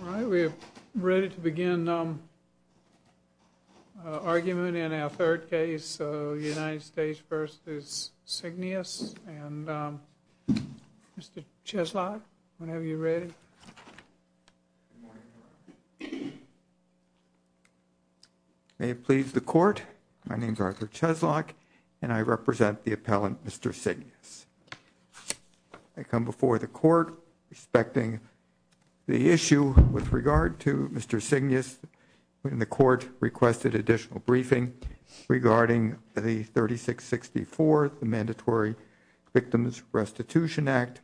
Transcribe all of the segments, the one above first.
All right, we're ready to begin our argument in our third case, United States v. Seignious, and Mr. Cheslock, whenever you're ready. May it please the court, my name is Arthur Cheslock and I represent the appellant Mr. Seignious. I come before the court respecting the issue with regard to Mr. Seignious, and the court requested additional briefing regarding the 3664, the Mandatory Victims Restitution Act.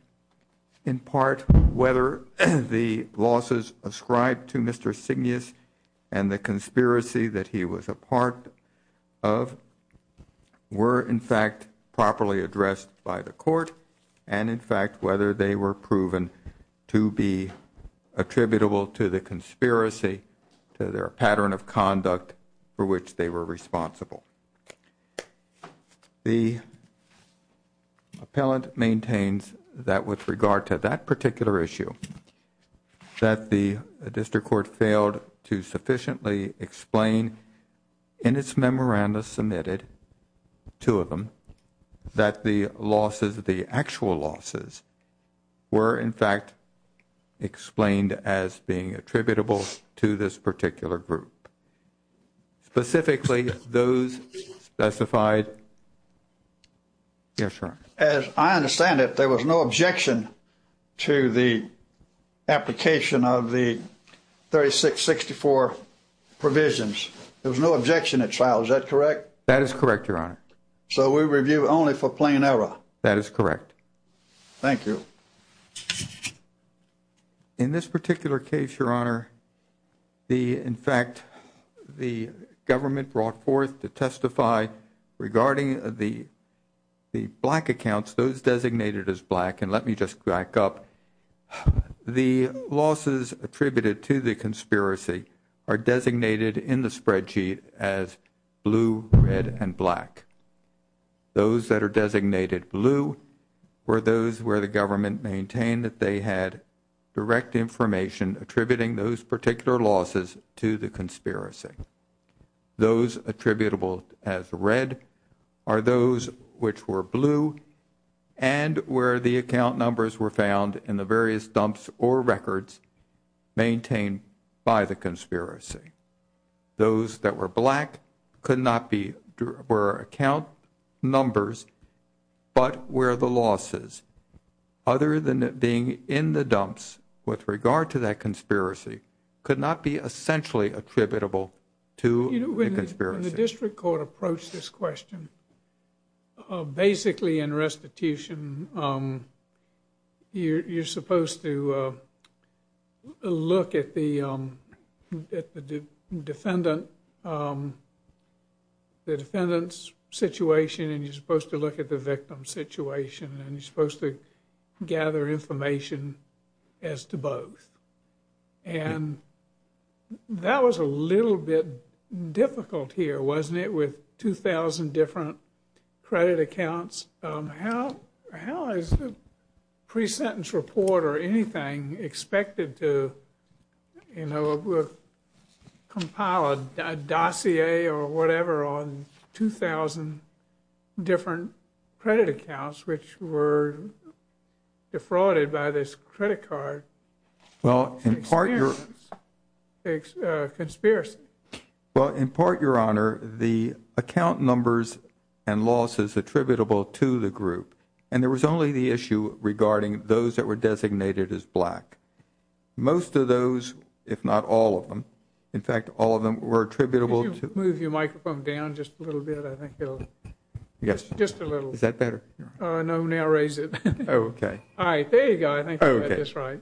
In part, whether the losses ascribed to Mr. Seignious and the conspiracy that he was a part of were in fact properly addressed by the court, and in fact whether they were proven to be attributable to the conspiracy, to their pattern of conduct for which they were responsible. The appellant maintains that with regard to that particular issue, that the district court failed to sufficiently explain in its memoranda submitted, two of them, that the losses, the actual losses, were in fact explained as being attributable to this particular group. Specifically, those specified. Yes, Your Honor. As I understand it, there was no objection to the application of the 3664 provisions. There was no objection at trial, is that correct? That is correct, Your Honor. So we review only for plain error? That is correct. Thank you. In this particular case, Your Honor, in fact, the government brought forth to testify regarding the black accounts, those designated as black, and let me just back up, the losses attributed to the conspiracy are designated in the spreadsheet as blue, red, and black. Those that are designated blue were those where the government maintained that they had direct information attributing those particular losses to the conspiracy. Those attributable as red are those which were blue and where the account numbers were found in the various dumps or records maintained by the conspiracy. Those that were black were account numbers but where the losses, other than being in the dumps with regard to that conspiracy, could not be essentially attributable to the conspiracy. When the district court approached this question, basically in restitution, you're supposed to look at the defendant's situation and you're supposed to look at the victim's situation and you're supposed to gather information as to both. And that was a little bit difficult here, wasn't it, with 2,000 different credit accounts? How is a pre-sentence report or anything expected to compile a dossier or whatever on 2,000 different credit accounts which were defrauded by this credit card? It's a conspiracy. Well, in part, Your Honor, the account numbers and losses attributable to the group, and there was only the issue regarding those that were designated as black. Most of those, if not all of them, in fact, all of them were attributable to... Could you move your microphone down just a little bit? I think it'll... Yes. Just a little. Is that better? No, now raise it. Oh, okay. All right, there you go. I think you got this right.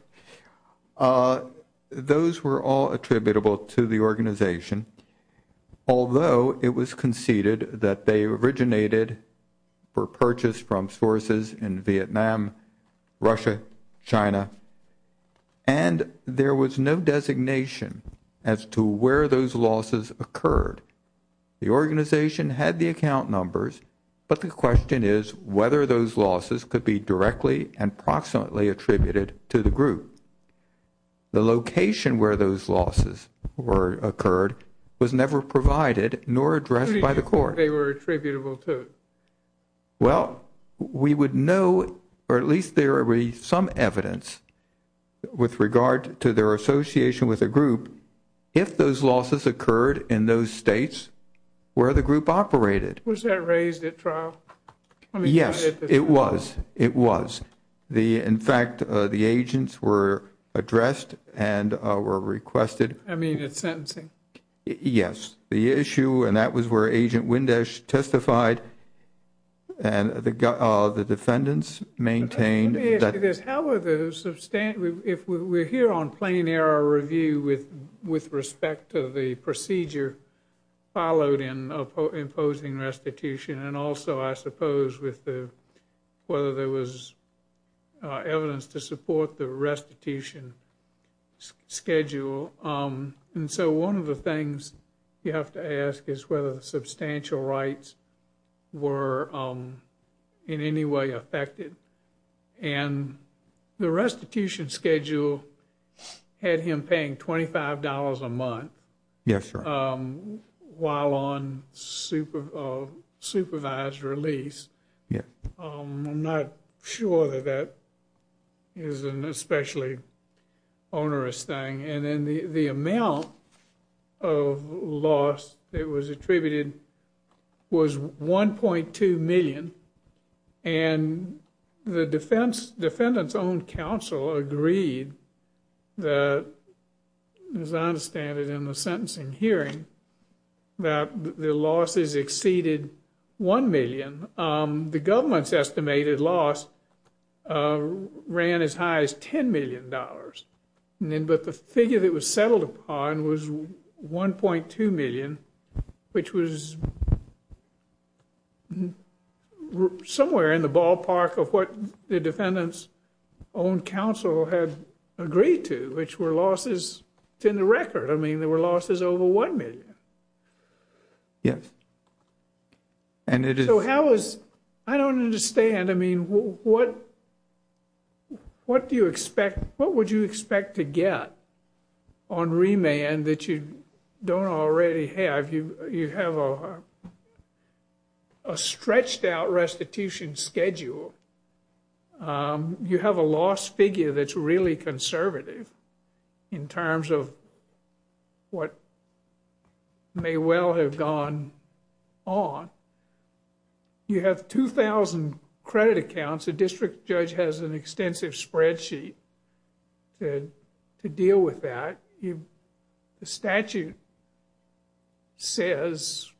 Those were all attributable to the organization, although it was conceded that they originated, were purchased from sources in Vietnam, Russia, China, and there was no designation as to where those losses occurred. The organization had the account numbers, but the question is whether those losses could be directly and proximately attributed to the group. The location where those losses occurred was never provided nor addressed by the court. They were attributable to? Well, we would know, or at least there would be some evidence with regard to their association with the group, if those losses occurred in those states where the group operated. Was that raised at trial? Yes, it was. It was. In fact, the agents were addressed and were requested... I mean at sentencing. Yes. The issue, and that was where Agent Windash testified, and the defendants maintained... Let me ask you this. How were the... If we're here on plain error review with respect to the procedure followed in imposing restitution, and also, I suppose, whether there was evidence to support the restitution schedule. And so one of the things you have to ask is whether the substantial rights were in any way affected. And the restitution schedule had him paying $25 a month while on supervised release. I'm not sure that that is an especially onerous thing. And then the amount of loss that was attributed was $1.2 million. And the defendant's own counsel agreed that, as I understand it in the sentencing hearing, that the losses exceeded $1 million. The government's estimated loss ran as high as $10 million. But the figure that was settled upon was $1.2 million, which was somewhere in the ballpark of what the defendant's own counsel had agreed to, which were losses to the record. I mean, there were losses over $1 million. Yes. And it is... So how is... I don't understand. I mean, what do you expect... What would you expect to get on remand that you don't already have? You have a stretched out restitution schedule. You have a loss figure that's really conservative in terms of what may well have gone on. You have 2,000 credit accounts. The district judge has an extensive spreadsheet to deal with that. The statute says...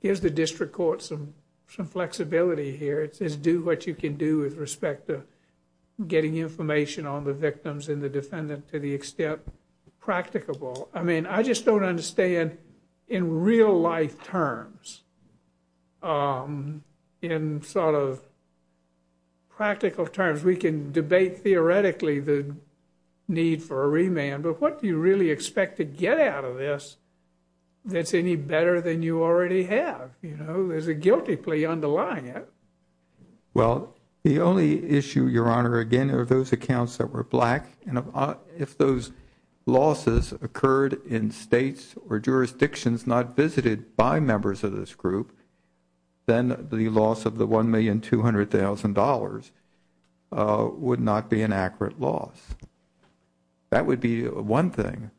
Here's the district court, some flexibility here. It says, do what you can do with respect to getting information on the victims and the defendant to the extent practicable. I mean, I just don't understand in real life terms, in sort of practical terms, we can debate theoretically the need for a remand. But what do you really expect to get out of this that's any better than you already have? You know, there's a guilty plea underlying it. Well, the only issue, Your Honor, again, are those accounts that were black. And if those losses occurred in states or jurisdictions not visited by members of this group, then the loss of the $1,200,000 would not be an accurate loss. That would be one thing.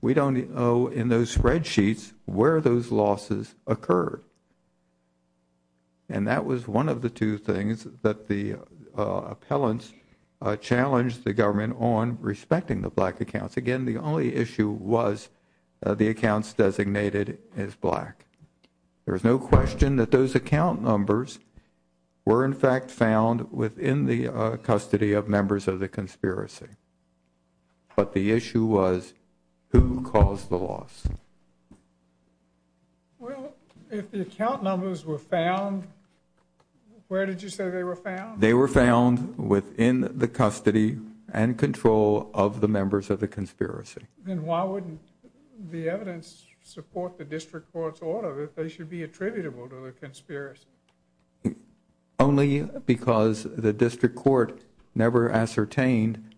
We don't know in those spreadsheets where those losses occurred. And that was one of the two things that the appellants challenged the government on respecting the black accounts. Again, the only issue was the accounts designated as black. There's no question that those account numbers were in fact found within the custody of members of the conspiracy. But the issue was who caused the loss. Well, if the account numbers were found, where did you say they were found? They were found within the custody and control of the members of the conspiracy. Then why wouldn't the evidence support the district court's order that they should be attributable to the conspiracy? Only because the district court never ascertained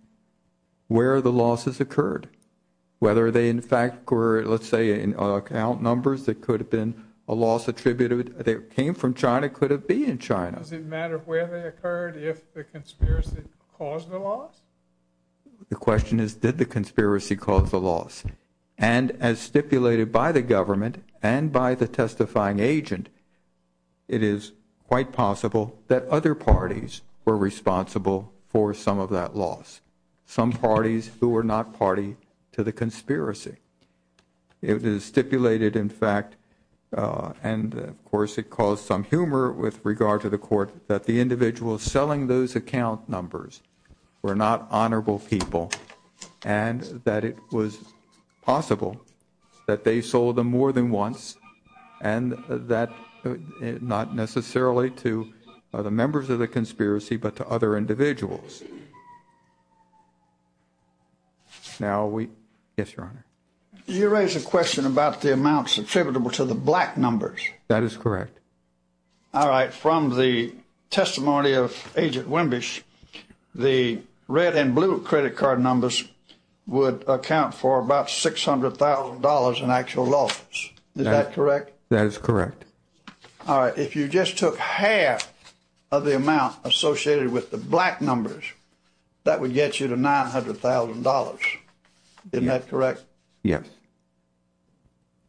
where the losses occurred. Whether they in fact were, let's say, in account numbers that could have been a loss attributed. They came from China, could have been in China. Does it matter where they occurred if the conspiracy caused the loss? The question is did the conspiracy cause the loss? And as stipulated by the government and by the testifying agent, it is quite possible that other parties were responsible for some of that loss. Some parties who were not party to the conspiracy. It is stipulated in fact, and of course it caused some humor with regard to the court, that the individuals selling those account numbers were not honorable people and that it was possible that they sold them more than once and that not necessarily to the members of the conspiracy but to other individuals. Now we, yes, your honor. Did you raise a question about the amounts attributable to the black numbers? That is correct. All right. From the testimony of Agent Wimbish, the red and blue credit card numbers would account for about $600,000 in actual losses. Is that correct? That is correct. All right. If you just took half of the amount associated with the black numbers, that would get you to $900,000. Isn't that correct? Yes.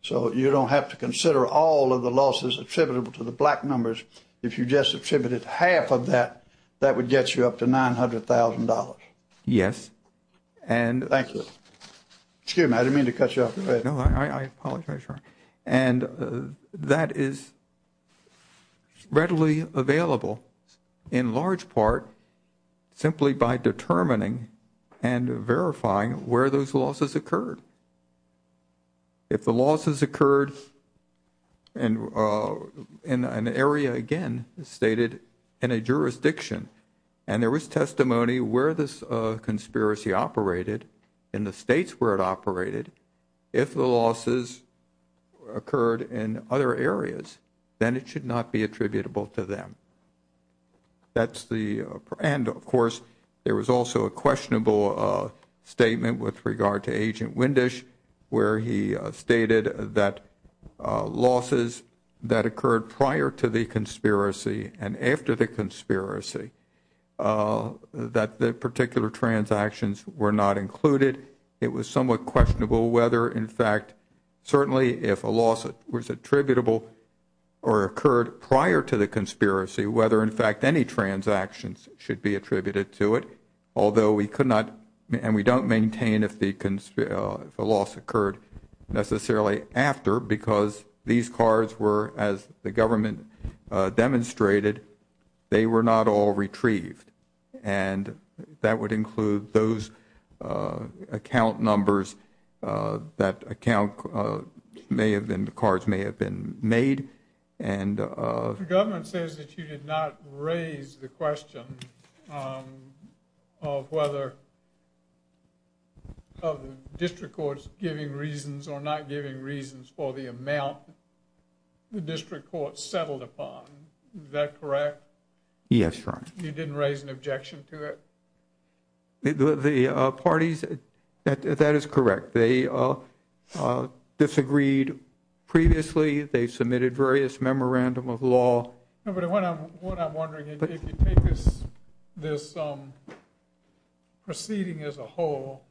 So you don't have to consider all of the losses attributable to the black numbers. If you just attributed half of that, that would get you up to $900,000. Yes. Thank you. Excuse me. I didn't mean to cut you off. No, I apologize, your honor. And that is readily available in large part simply by determining and verifying where those losses occurred. If the losses occurred in an area, again, stated in a jurisdiction, and there was testimony where this conspiracy operated, in the states where it operated, if the losses occurred in other areas, then it should not be attributable to them. And, of course, there was also a questionable statement with regard to Agent Wimbish where he stated that losses that occurred prior to the conspiracy and after the conspiracy, that the particular transactions were not included. It was somewhat questionable whether, in fact, certainly if a loss was attributable or occurred prior to the conspiracy, whether, in fact, any transactions should be attributed to it, although we could not and we don't maintain if a loss occurred necessarily after because these cards were, as the government demonstrated, they were not all retrieved. And that would include those account numbers that account may have been, the cards may have been made. The government says that you did not raise the question of whether of the district courts giving reasons or not giving reasons for the amount the district courts settled upon. Is that correct? Yes, Your Honor. You didn't raise an objection to it? The parties, that is correct. They disagreed previously. They submitted various memorandum of law. No, but what I'm wondering, if you take this proceeding as a whole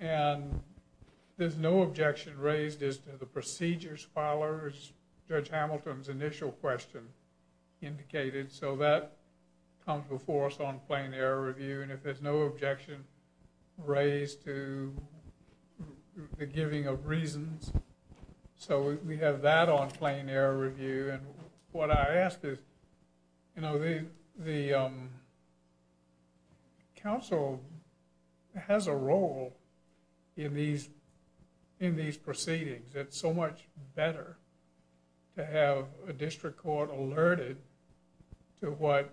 and there's no objection raised as to the procedures followers, Judge Hamilton's initial question indicated, so that comes before us on plain error review, and if there's no objection raised to the giving of reasons, so we have that on plain error review. And what I ask is, you know, the council has a role in these proceedings. It's so much better to have a district court alerted to what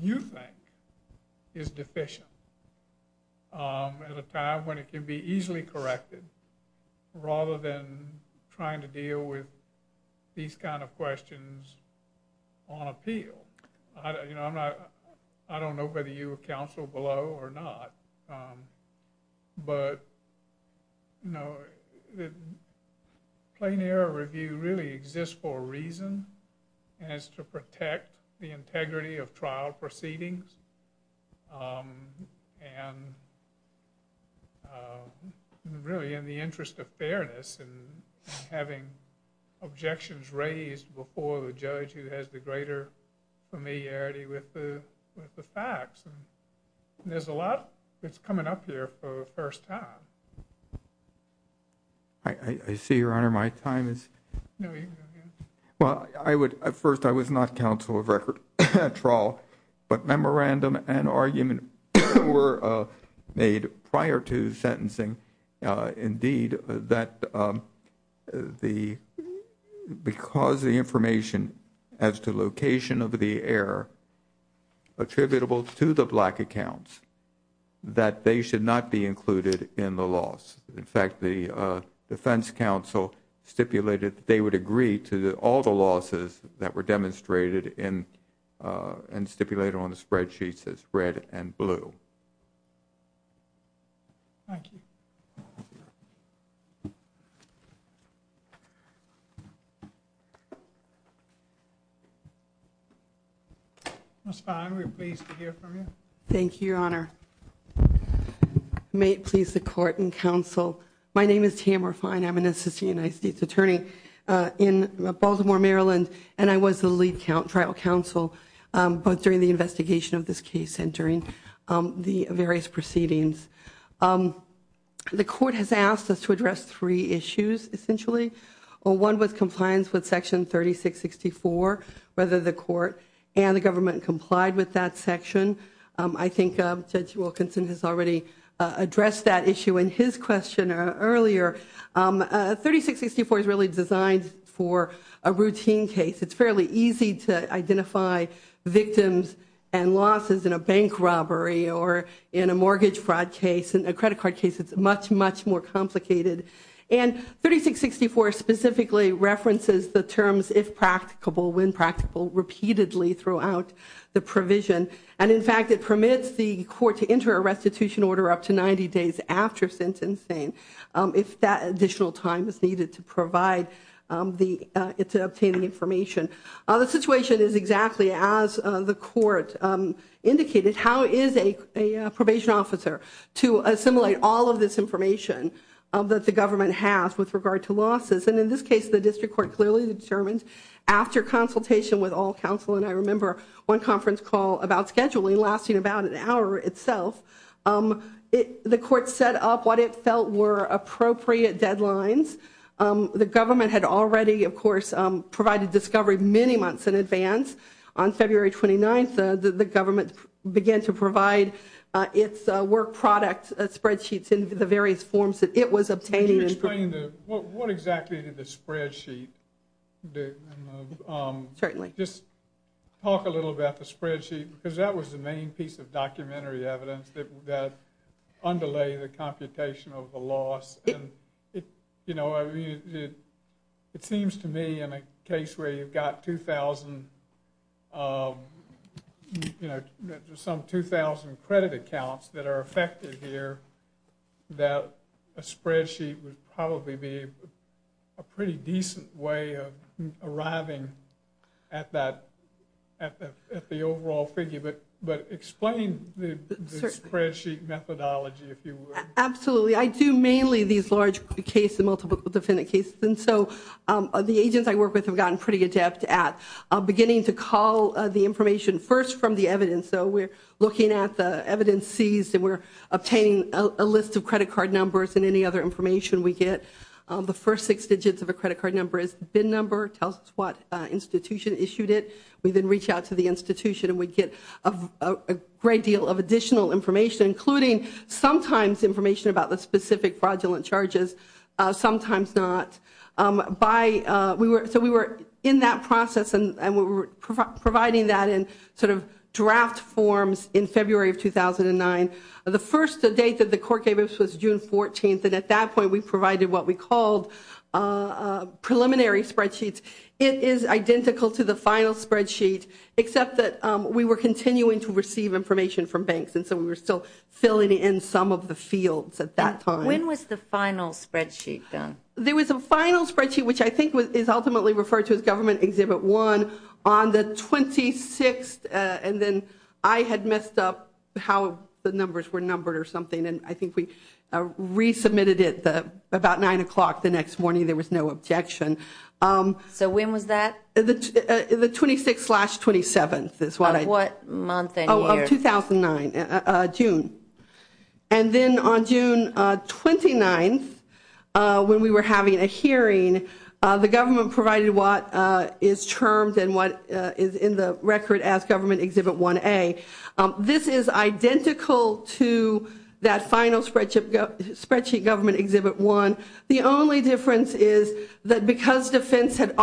you think is deficient at a time when it can be easily corrected, rather than trying to deal with these kind of questions on appeal. You know, I'm not, I don't know whether you were counsel below or not, but, you know, plain error review really exists for a reason, and it's to protect the integrity of trial proceedings. And really, in the interest of fairness, and having objections raised before the judge who has the greater familiarity with the facts, and there's a lot that's coming up here for the first time. I see, Your Honor, my time is... No, you can go ahead. Well, I would, at first I was not counsel of record at all, but memorandum and argument were made prior to sentencing, indeed, that because the information as to location of the error attributable to the black accounts, that they should not be included in the loss. In fact, the defense counsel stipulated that they would agree to all the losses that were demonstrated and stipulated on the spreadsheets as red and blue. Thank you. Ms. Fine, we're pleased to hear from you. Thank you, Your Honor. May it please the Court and counsel, my name is Tamara Fine, I'm an assistant United States attorney. in Baltimore, Maryland, and I was the lead trial counsel both during the investigation of this case and during the various proceedings. The Court has asked us to address three issues, essentially. One was compliance with Section 3664, whether the Court and the government complied with that section. I think Judge Wilkinson has already addressed that issue in his question earlier. 3664 is really designed for a routine case. It's fairly easy to identify victims and losses in a bank robbery or in a mortgage fraud case, in a credit card case. It's much, much more complicated. And 3664 specifically references the terms, if practicable, when practicable, repeatedly throughout the provision. And in fact, it permits the Court to enter a restitution order up to 90 days after sentencing. If that additional time is needed to provide the obtaining information. The situation is exactly as the Court indicated. How is a probation officer to assimilate all of this information that the government has with regard to losses? And in this case, the District Court clearly determined after consultation with all counsel, and I remember one conference call about scheduling lasting about an hour itself, the Court set up what it felt were appropriate deadlines. The government had already, of course, provided discovery many months in advance. On February 29th, the government began to provide its work product spreadsheets in the various forms that it was obtaining. Can you explain what exactly did the spreadsheet do? Certainly. Just talk a little about the spreadsheet, because that was the main piece of documentary evidence that underlay the computation of the loss. You know, it seems to me in a case where you've got 2,000, you know, some 2,000 credit accounts that are affected here, that a spreadsheet would probably be a pretty decent way of arriving at the overall figure. But explain the spreadsheet methodology, if you would. Absolutely. I do mainly these large case and multiple defendant cases, and so the agents I work with have gotten pretty adept at beginning to call the information first from the evidence. So we're looking at the evidence seized, and we're obtaining a list of credit card numbers and any other information we get. The first six digits of a credit card number is the BIN number. It tells us what institution issued it. We then reach out to the institution, and we get a great deal of additional information, including sometimes information about the specific fraudulent charges, sometimes not. So we were in that process, and we were providing that in sort of draft forms in February of 2009. The first date that the court gave us was June 14th, and at that point we provided what we called preliminary spreadsheets It is identical to the final spreadsheet, except that we were continuing to receive information from banks, and so we were still filling in some of the fields at that time. When was the final spreadsheet done? There was a final spreadsheet, which I think is ultimately referred to as Government Exhibit 1, on the 26th, and then I had messed up how the numbers were numbered or something, and I think we resubmitted it about 9 o'clock the next morning. There was no objection. So when was that? The 26th-27th is what I did. Of what month and year? Of 2009, June. And then on June 29th, when we were having a hearing, the government provided what is termed and what is in the record as Government Exhibit 1A. This is identical to that final spreadsheet, Government Exhibit 1. The only difference is that because defense had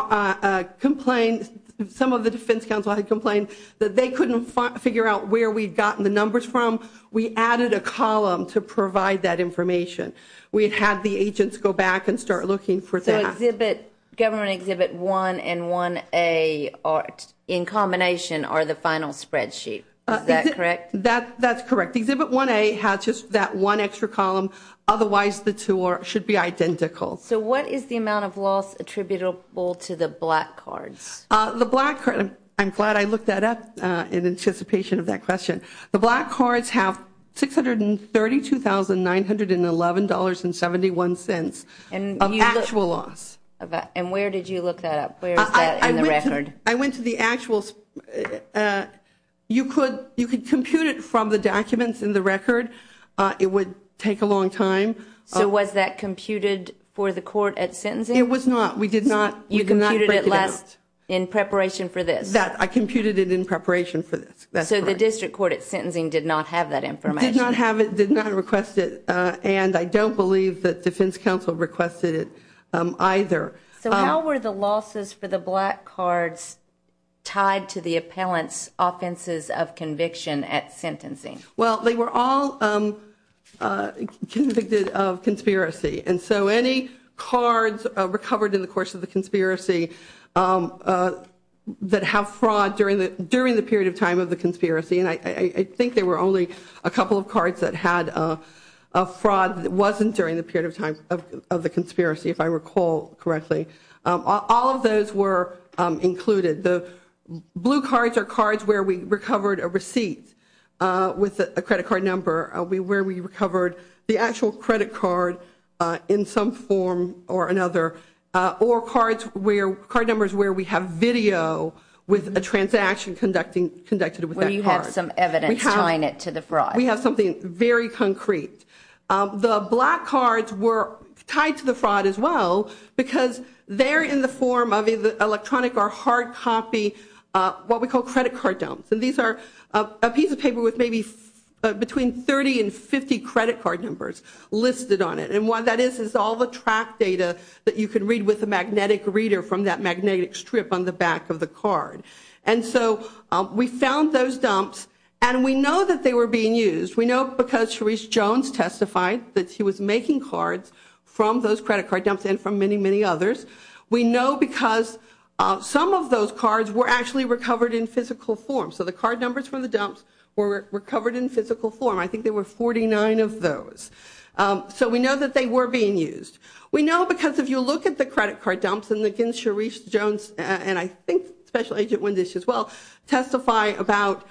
complained, some of the defense counsel had complained, that they couldn't figure out where we'd gotten the numbers from, we added a column to provide that information. We had had the agents go back and start looking for that. So Government Exhibit 1 and 1A, in combination, are the final spreadsheet. Is that correct? That's correct. Exhibit 1A has just that one extra column. Otherwise, the two should be identical. So what is the amount of loss attributable to the black cards? I'm glad I looked that up in anticipation of that question. The black cards have $632,911.71 of actual loss. And where did you look that up? Where is that in the record? I went to the actuals. You could compute it from the documents in the record. It would take a long time. So was that computed for the court at sentencing? It was not. We did not break it out. You computed it in preparation for this? I computed it in preparation for this. So the district court at sentencing did not have that information? Did not have it, did not request it, and I don't believe that defense counsel requested it either. So how were the losses for the black cards tied to the appellant's offenses of conviction at sentencing? Well, they were all convicted of conspiracy. And so any cards recovered in the course of the conspiracy that have fraud during the period of time of the conspiracy, and I think there were only a couple of cards that had fraud that wasn't during the period of time of the conspiracy, if I recall correctly. All of those were included. The blue cards are cards where we recovered a receipt with a credit card number, where we recovered the actual credit card in some form or another, or card numbers where we have video with a transaction conducted with that card. Well, you have some evidence tying it to the fraud. We have something very concrete. The black cards were tied to the fraud as well because they're in the form of electronic or hard copy, what we call credit card dumps. And these are a piece of paper with maybe between 30 and 50 credit card numbers listed on it. And what that is is all the track data that you can read with a magnetic reader from that magnetic strip on the back of the card. And so we found those dumps, and we know that they were being used. We know because Sharice Jones testified that she was making cards from those credit card dumps and from many, many others. We know because some of those cards were actually recovered in physical form. So the card numbers from the dumps were recovered in physical form. I think there were 49 of those. So we know that they were being used. We know because if you look at the credit card dumps, and again Sharice Jones and I think Special Agent Wendish as well testify about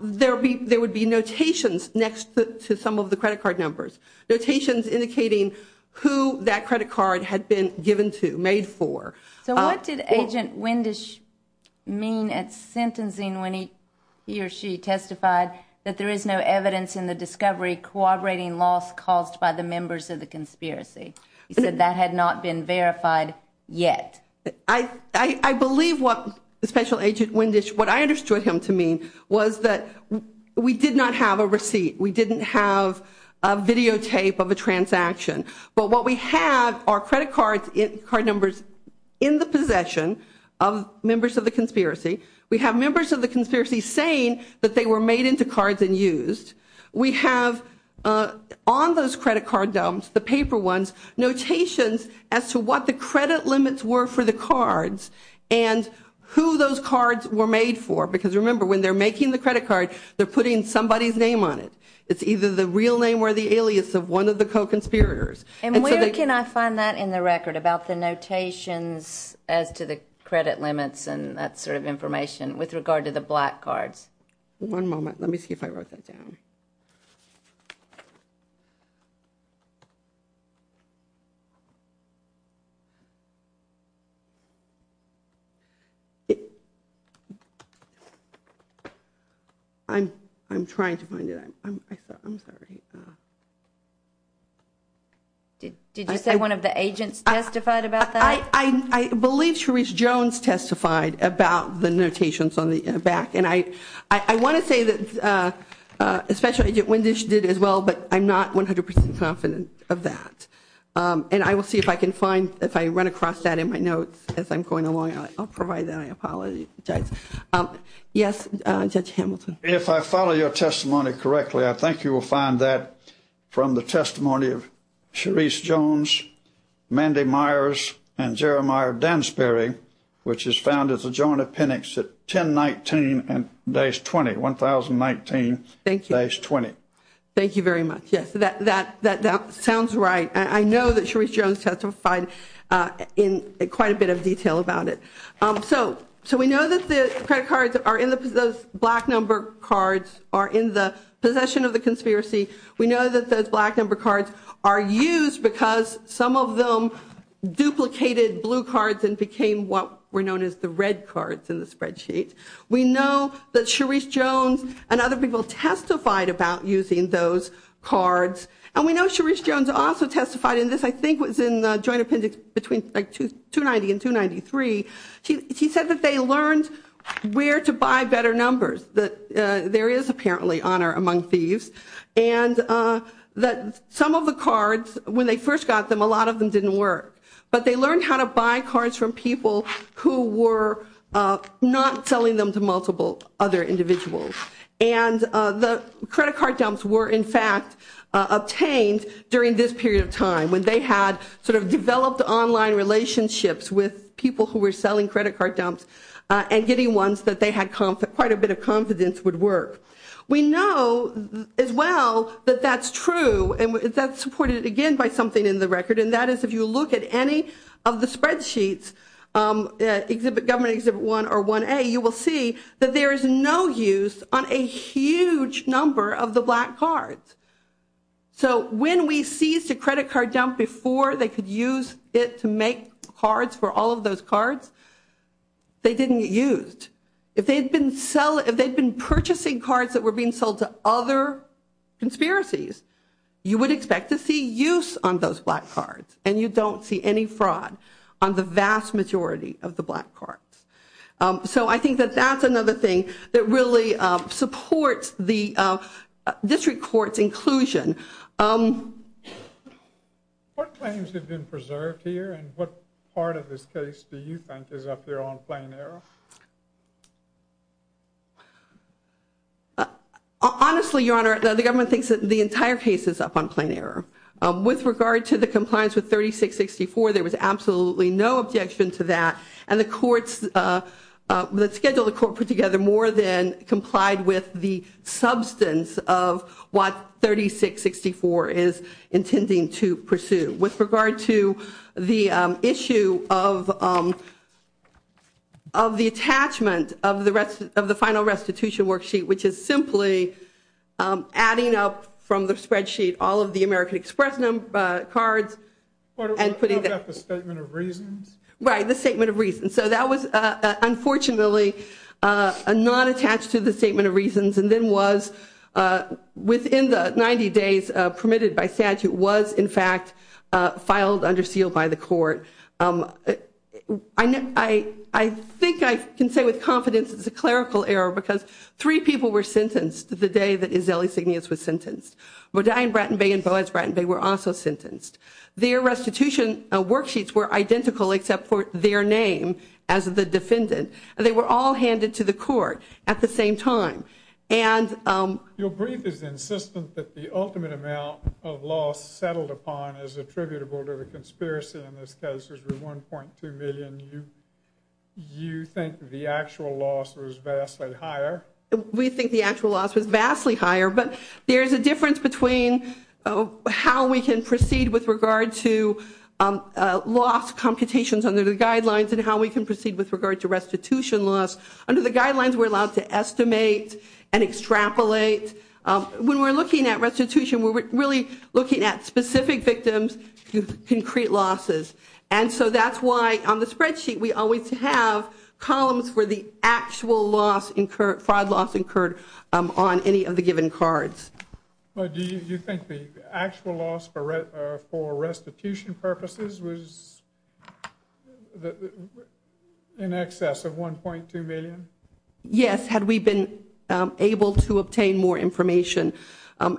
there would be notations next to some of the credit card numbers, notations indicating who that credit card had been given to, made for. So what did Agent Wendish mean at sentencing when he or she testified that there is no evidence in the discovery corroborating loss caused by the members of the conspiracy? He said that had not been verified yet. I believe what Special Agent Wendish, what I understood him to mean, was that we did not have a receipt. We didn't have a videotape of a transaction. But what we have are credit card numbers in the possession of members of the conspiracy. We have members of the conspiracy saying that they were made into cards and used. We have on those credit card dumps, the paper ones, notations as to what the credit limits were for the cards and who those cards were made for. Because remember, when they're making the credit card, they're putting somebody's name on it. It's either the real name or the alias of one of the co-conspirators. And where can I find that in the record about the notations as to the credit limits and that sort of information with regard to the black cards? One moment. Let me see if I wrote that down. I'm trying to find it. I'm sorry. Did you say one of the agents testified about that? I believe Cherise Jones testified about the notations on the back. And I want to say that Special Agent Wendish did as well, but I'm not 100% confident of that. And I will see if I can find, if I run across that in my notes as I'm going along. I'll provide that. I apologize. Yes, Judge Hamilton. If I follow your testimony correctly, I think you will find that from the testimony of Cherise Jones, Mandy Myers, and Jeremiah Dansbury, which is found as a joint appendix at 1019 and days 20, 1019 days 20. Thank you. Thank you very much. Yes, that sounds right. I know that Cherise Jones testified in quite a bit of detail about it. So we know that the credit cards are in the black number cards, are in the possession of the conspiracy. We know that those black number cards are used because some of them duplicated blue cards and became what were known as the red cards in the spreadsheet. We know that Cherise Jones and other people testified about using those cards. And we know Cherise Jones also testified in this, I think it was in the joint appendix between 290 and 293. She said that they learned where to buy better numbers, that there is apparently honor among thieves. And that some of the cards, when they first got them, a lot of them didn't work. But they learned how to buy cards from people who were not selling them to multiple other individuals. And the credit card dumps were, in fact, obtained during this period of time, when they had sort of developed online relationships with people who were selling credit card dumps and getting ones that they had quite a bit of confidence would work. We know as well that that's true and that's supported again by something in the record. And that is if you look at any of the spreadsheets, government exhibit 1 or 1A, you will see that there is no use on a huge number of the black cards. So when we seized a credit card dump before they could use it to make cards for all of those cards, they didn't get used. If they had been purchasing cards that were being sold to other conspiracies, you would expect to see use on those black cards. And you don't see any fraud on the vast majority of the black cards. So I think that that's another thing that really supports the district court's inclusion. What claims have been preserved here? And what part of this case do you think is up there on plain error? Honestly, Your Honor, the government thinks that the entire case is up on plain error. With regard to the compliance with 3664, there was absolutely no objection to that. And the schedule the court put together more than complied with the substance of what 3664 is intending to pursue. With regard to the issue of the attachment of the final restitution worksheet, which is simply adding up from the spreadsheet all of the American Express cards. What about the statement of reasons? Right, the statement of reasons. So that was unfortunately not attached to the statement of reasons and then was within the 90 days permitted by statute was, in fact, filed under seal by the court. I think I can say with confidence it's a clerical error because three people were sentenced the day that Izzelli Signius was sentenced. Rodin, Bratton Bay, and Boaz Bratton Bay were also sentenced. Their restitution worksheets were identical except for their name as the defendant. They were all handed to the court at the same time. Your brief is insistent that the ultimate amount of loss settled upon is attributable to the conspiracy in this case. It was 1.2 million. You think the actual loss was vastly higher. We think the actual loss was vastly higher, but there is a difference between how we can proceed with regard to loss computations under the guidelines and how we can proceed with regard to restitution loss. Under the guidelines, we're allowed to estimate and extrapolate. When we're looking at restitution, we're really looking at specific victims, concrete losses. That's why on the spreadsheet we always have columns for the actual fraud loss incurred on any of the given cards. Do you think the actual loss for restitution purposes was in excess of 1.2 million? Yes, had we been able to obtain more information.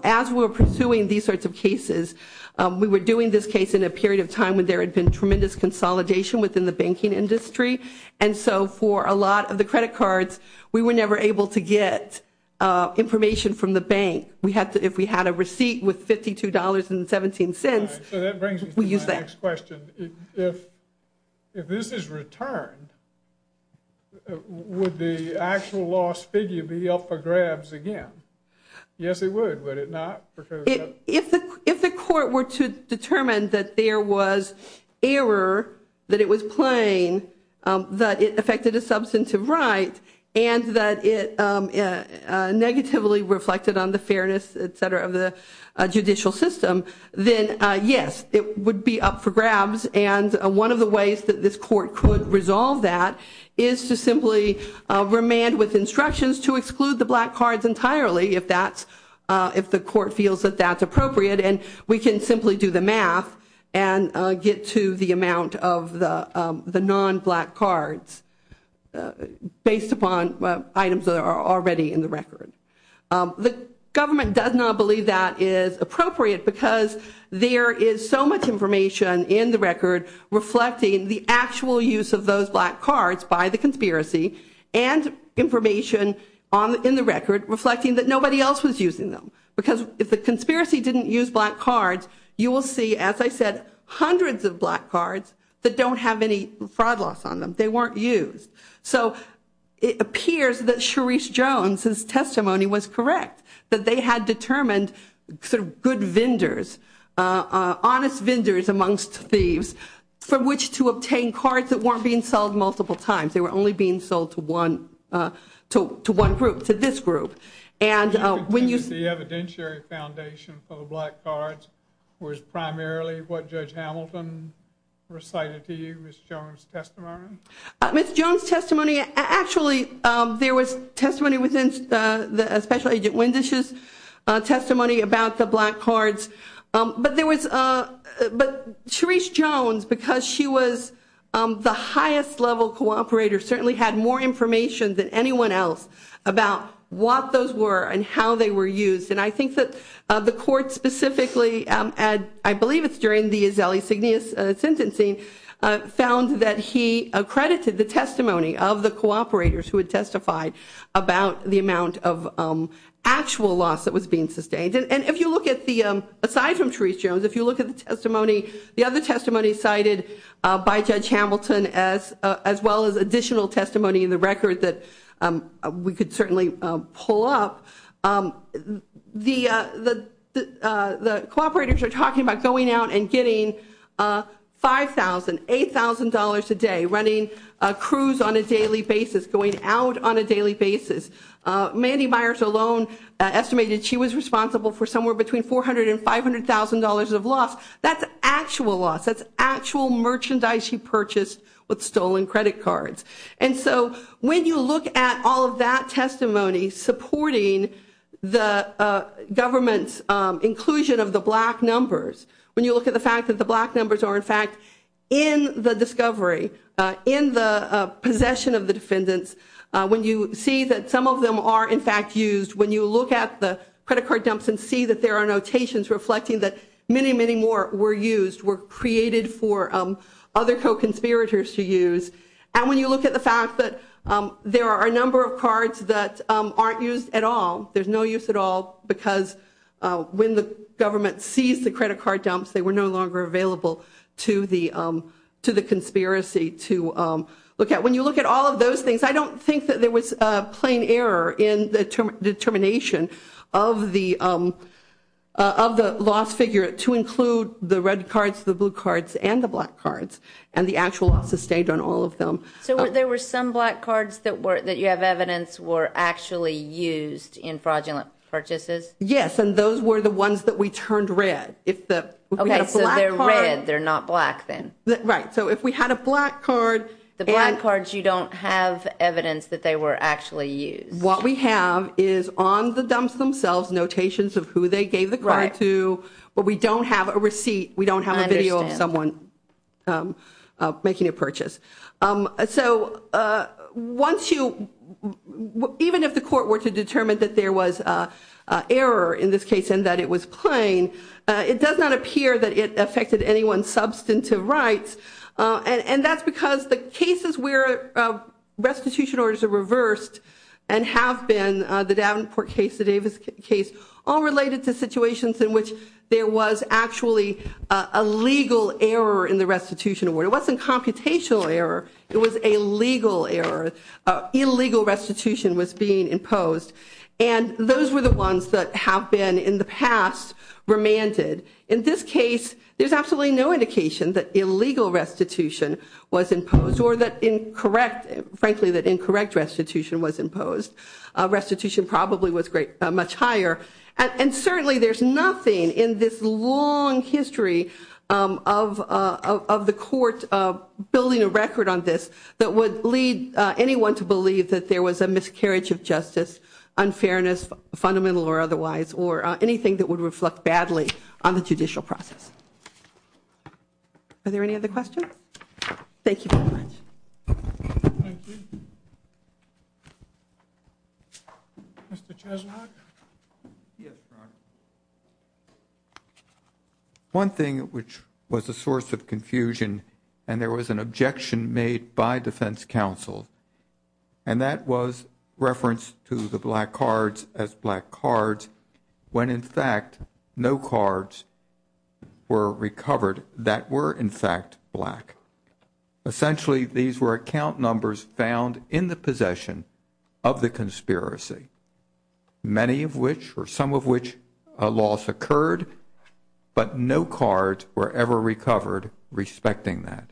As we were pursuing these sorts of cases, we were doing this case in a period of time when there had been tremendous consolidation within the banking industry. For a lot of the credit cards, we were never able to get information from the bank. If we had a receipt with $52.17, we used that. That brings me to my next question. If this is returned, would the actual loss figure be up for grabs again? Yes, it would. Would it not? If the court were to determine that there was error, that it was plain, that it affected a substantive right, and that it negatively reflected on the fairness, etc., of the judicial system, then yes, it would be up for grabs. One of the ways that this court could resolve that is to simply remand with instructions to exclude the black cards entirely if the court feels that that's appropriate. We can simply do the math and get to the amount of the non-black cards based upon items that are already in the record. The government does not believe that is appropriate because there is so much information in the record reflecting the actual use of those black cards by the conspiracy and information in the record reflecting that nobody else was using them. Because if the conspiracy didn't use black cards, you will see, as I said, hundreds of black cards that don't have any fraud loss on them. They weren't used. So it appears that Sharice Jones' testimony was correct, that they had determined sort of good vendors, honest vendors amongst thieves, for which to obtain cards that weren't being sold multiple times. They were only being sold to one group, to this group. The evidentiary foundation for the black cards was primarily what Judge Hamilton recited to you, Ms. Jones' testimony? Ms. Jones' testimony, actually there was testimony within Special Agent Wendish's testimony about the black cards. But Sharice Jones, because she was the highest level cooperator, certainly had more information than anyone else about what those were and how they were used. And I think that the court specifically, I believe it's during the Azele-Signeus sentencing, found that he accredited the testimony of the cooperators who had testified about the amount of actual loss that was being sustained. And if you look at the, aside from Sharice Jones, if you look at the testimony, the other testimony cited by Judge Hamilton as well as additional testimony in the record that we could certainly pull up, the cooperators are talking about going out and getting $5,000, $8,000 a day, running a cruise on a daily basis, going out on a daily basis. Mandy Myers alone estimated she was responsible for somewhere between $400,000 and $500,000 of loss. That's actual loss. That's actual merchandise she purchased with stolen credit cards. And so when you look at all of that testimony supporting the government's inclusion of the black numbers, when you look at the fact that the black numbers are, in fact, in the discovery, in the possession of the defendants, when you see that some of them are, in fact, used, when you look at the credit card dumps and see that there are notations reflecting that many, many more were used, were created for other co-conspirators to use, and when you look at the fact that there are a number of cards that aren't used at all, there's no use at all because when the government seized the credit card dumps, they were no longer available to the conspiracy to look at. When you look at all of those things, I don't think that there was plain error in the determination of the loss figure to include the red cards, the blue cards, and the black cards, and the actual loss sustained on all of them. So there were some black cards that you have evidence were actually used in fraudulent purchases? Yes, and those were the ones that we turned red. Okay, so they're red. They're not black then. Right. So if we had a black card... The black cards, you don't have evidence that they were actually used. What we have is on the dumps themselves notations of who they gave the card to, but we don't have a receipt, we don't have a video of someone making a purchase. So even if the court were to determine that there was error in this case and that it was plain, it does not appear that it affected anyone's substantive rights, and that's because the cases where restitution orders are reversed and have been, the Davenport case, the Davis case, all related to situations in which there was actually a legal error in the restitution. It wasn't computational error. It was a legal error. Illegal restitution was being imposed, and those were the ones that have been in the past remanded. In this case, there's absolutely no indication that illegal restitution was imposed or that, frankly, that incorrect restitution was imposed. Restitution probably was much higher, and certainly there's nothing in this long history of the court building a record on this that would lead anyone to believe that there was a miscarriage of justice, unfairness, fundamental or otherwise, or anything that would reflect badly on the judicial process. Are there any other questions? Thank you very much. Thank you. Mr. Chesilock? Yes, Ron. One thing which was a source of confusion, and there was an objection made by defense counsel, and that was reference to the black cards as black cards, when, in fact, no cards were recovered that were, in fact, black. Essentially, these were account numbers found in the possession of the conspiracy, many of which or some of which a loss occurred, but no cards were ever recovered respecting that.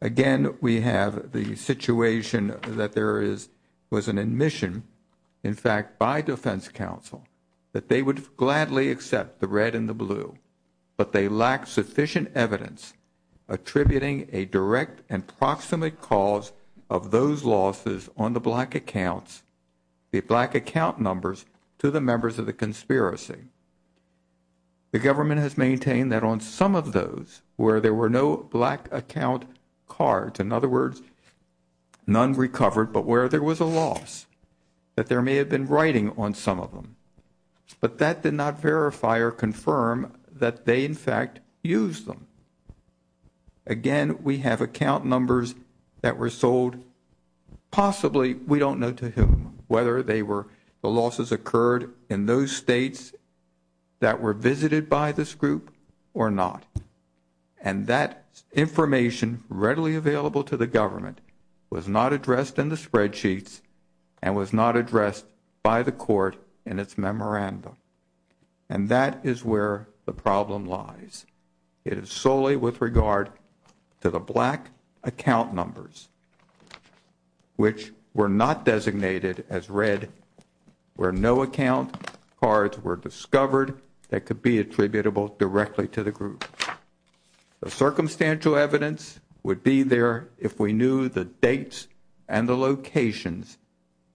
Again, we have the situation that there was an admission, in fact, by defense counsel, that they would gladly accept the red and the blue, but they lack sufficient evidence attributing a direct and proximate cause of those losses on the black accounts, the black account numbers, to the members of the conspiracy. The government has maintained that on some of those where there were no black account cards, in other words, none recovered, but where there was a loss that there may have been writing on some of them, but that did not verify or confirm that they, in fact, used them. Again, we have account numbers that were sold. Possibly, we don't know to whom, whether the losses occurred in those states that were visited by this group or not, and that information readily available to the government was not addressed in the spreadsheets and was not addressed by the court in its memorandum. And that is where the problem lies. It is solely with regard to the black account numbers, which were not designated as red, where no account cards were discovered that could be attributable directly to the group. The circumstantial evidence would be there if we knew the dates and the locations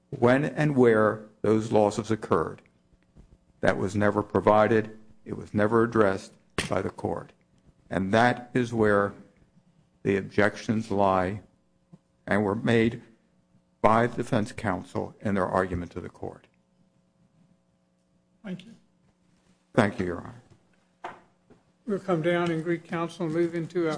when and where those losses occurred. That was never provided. It was never addressed by the court. And that is where the objections lie and were made by the defense counsel in their argument to the court. Thank you. Thank you, Your Honor. We'll come down in Greek Council and move into our final case.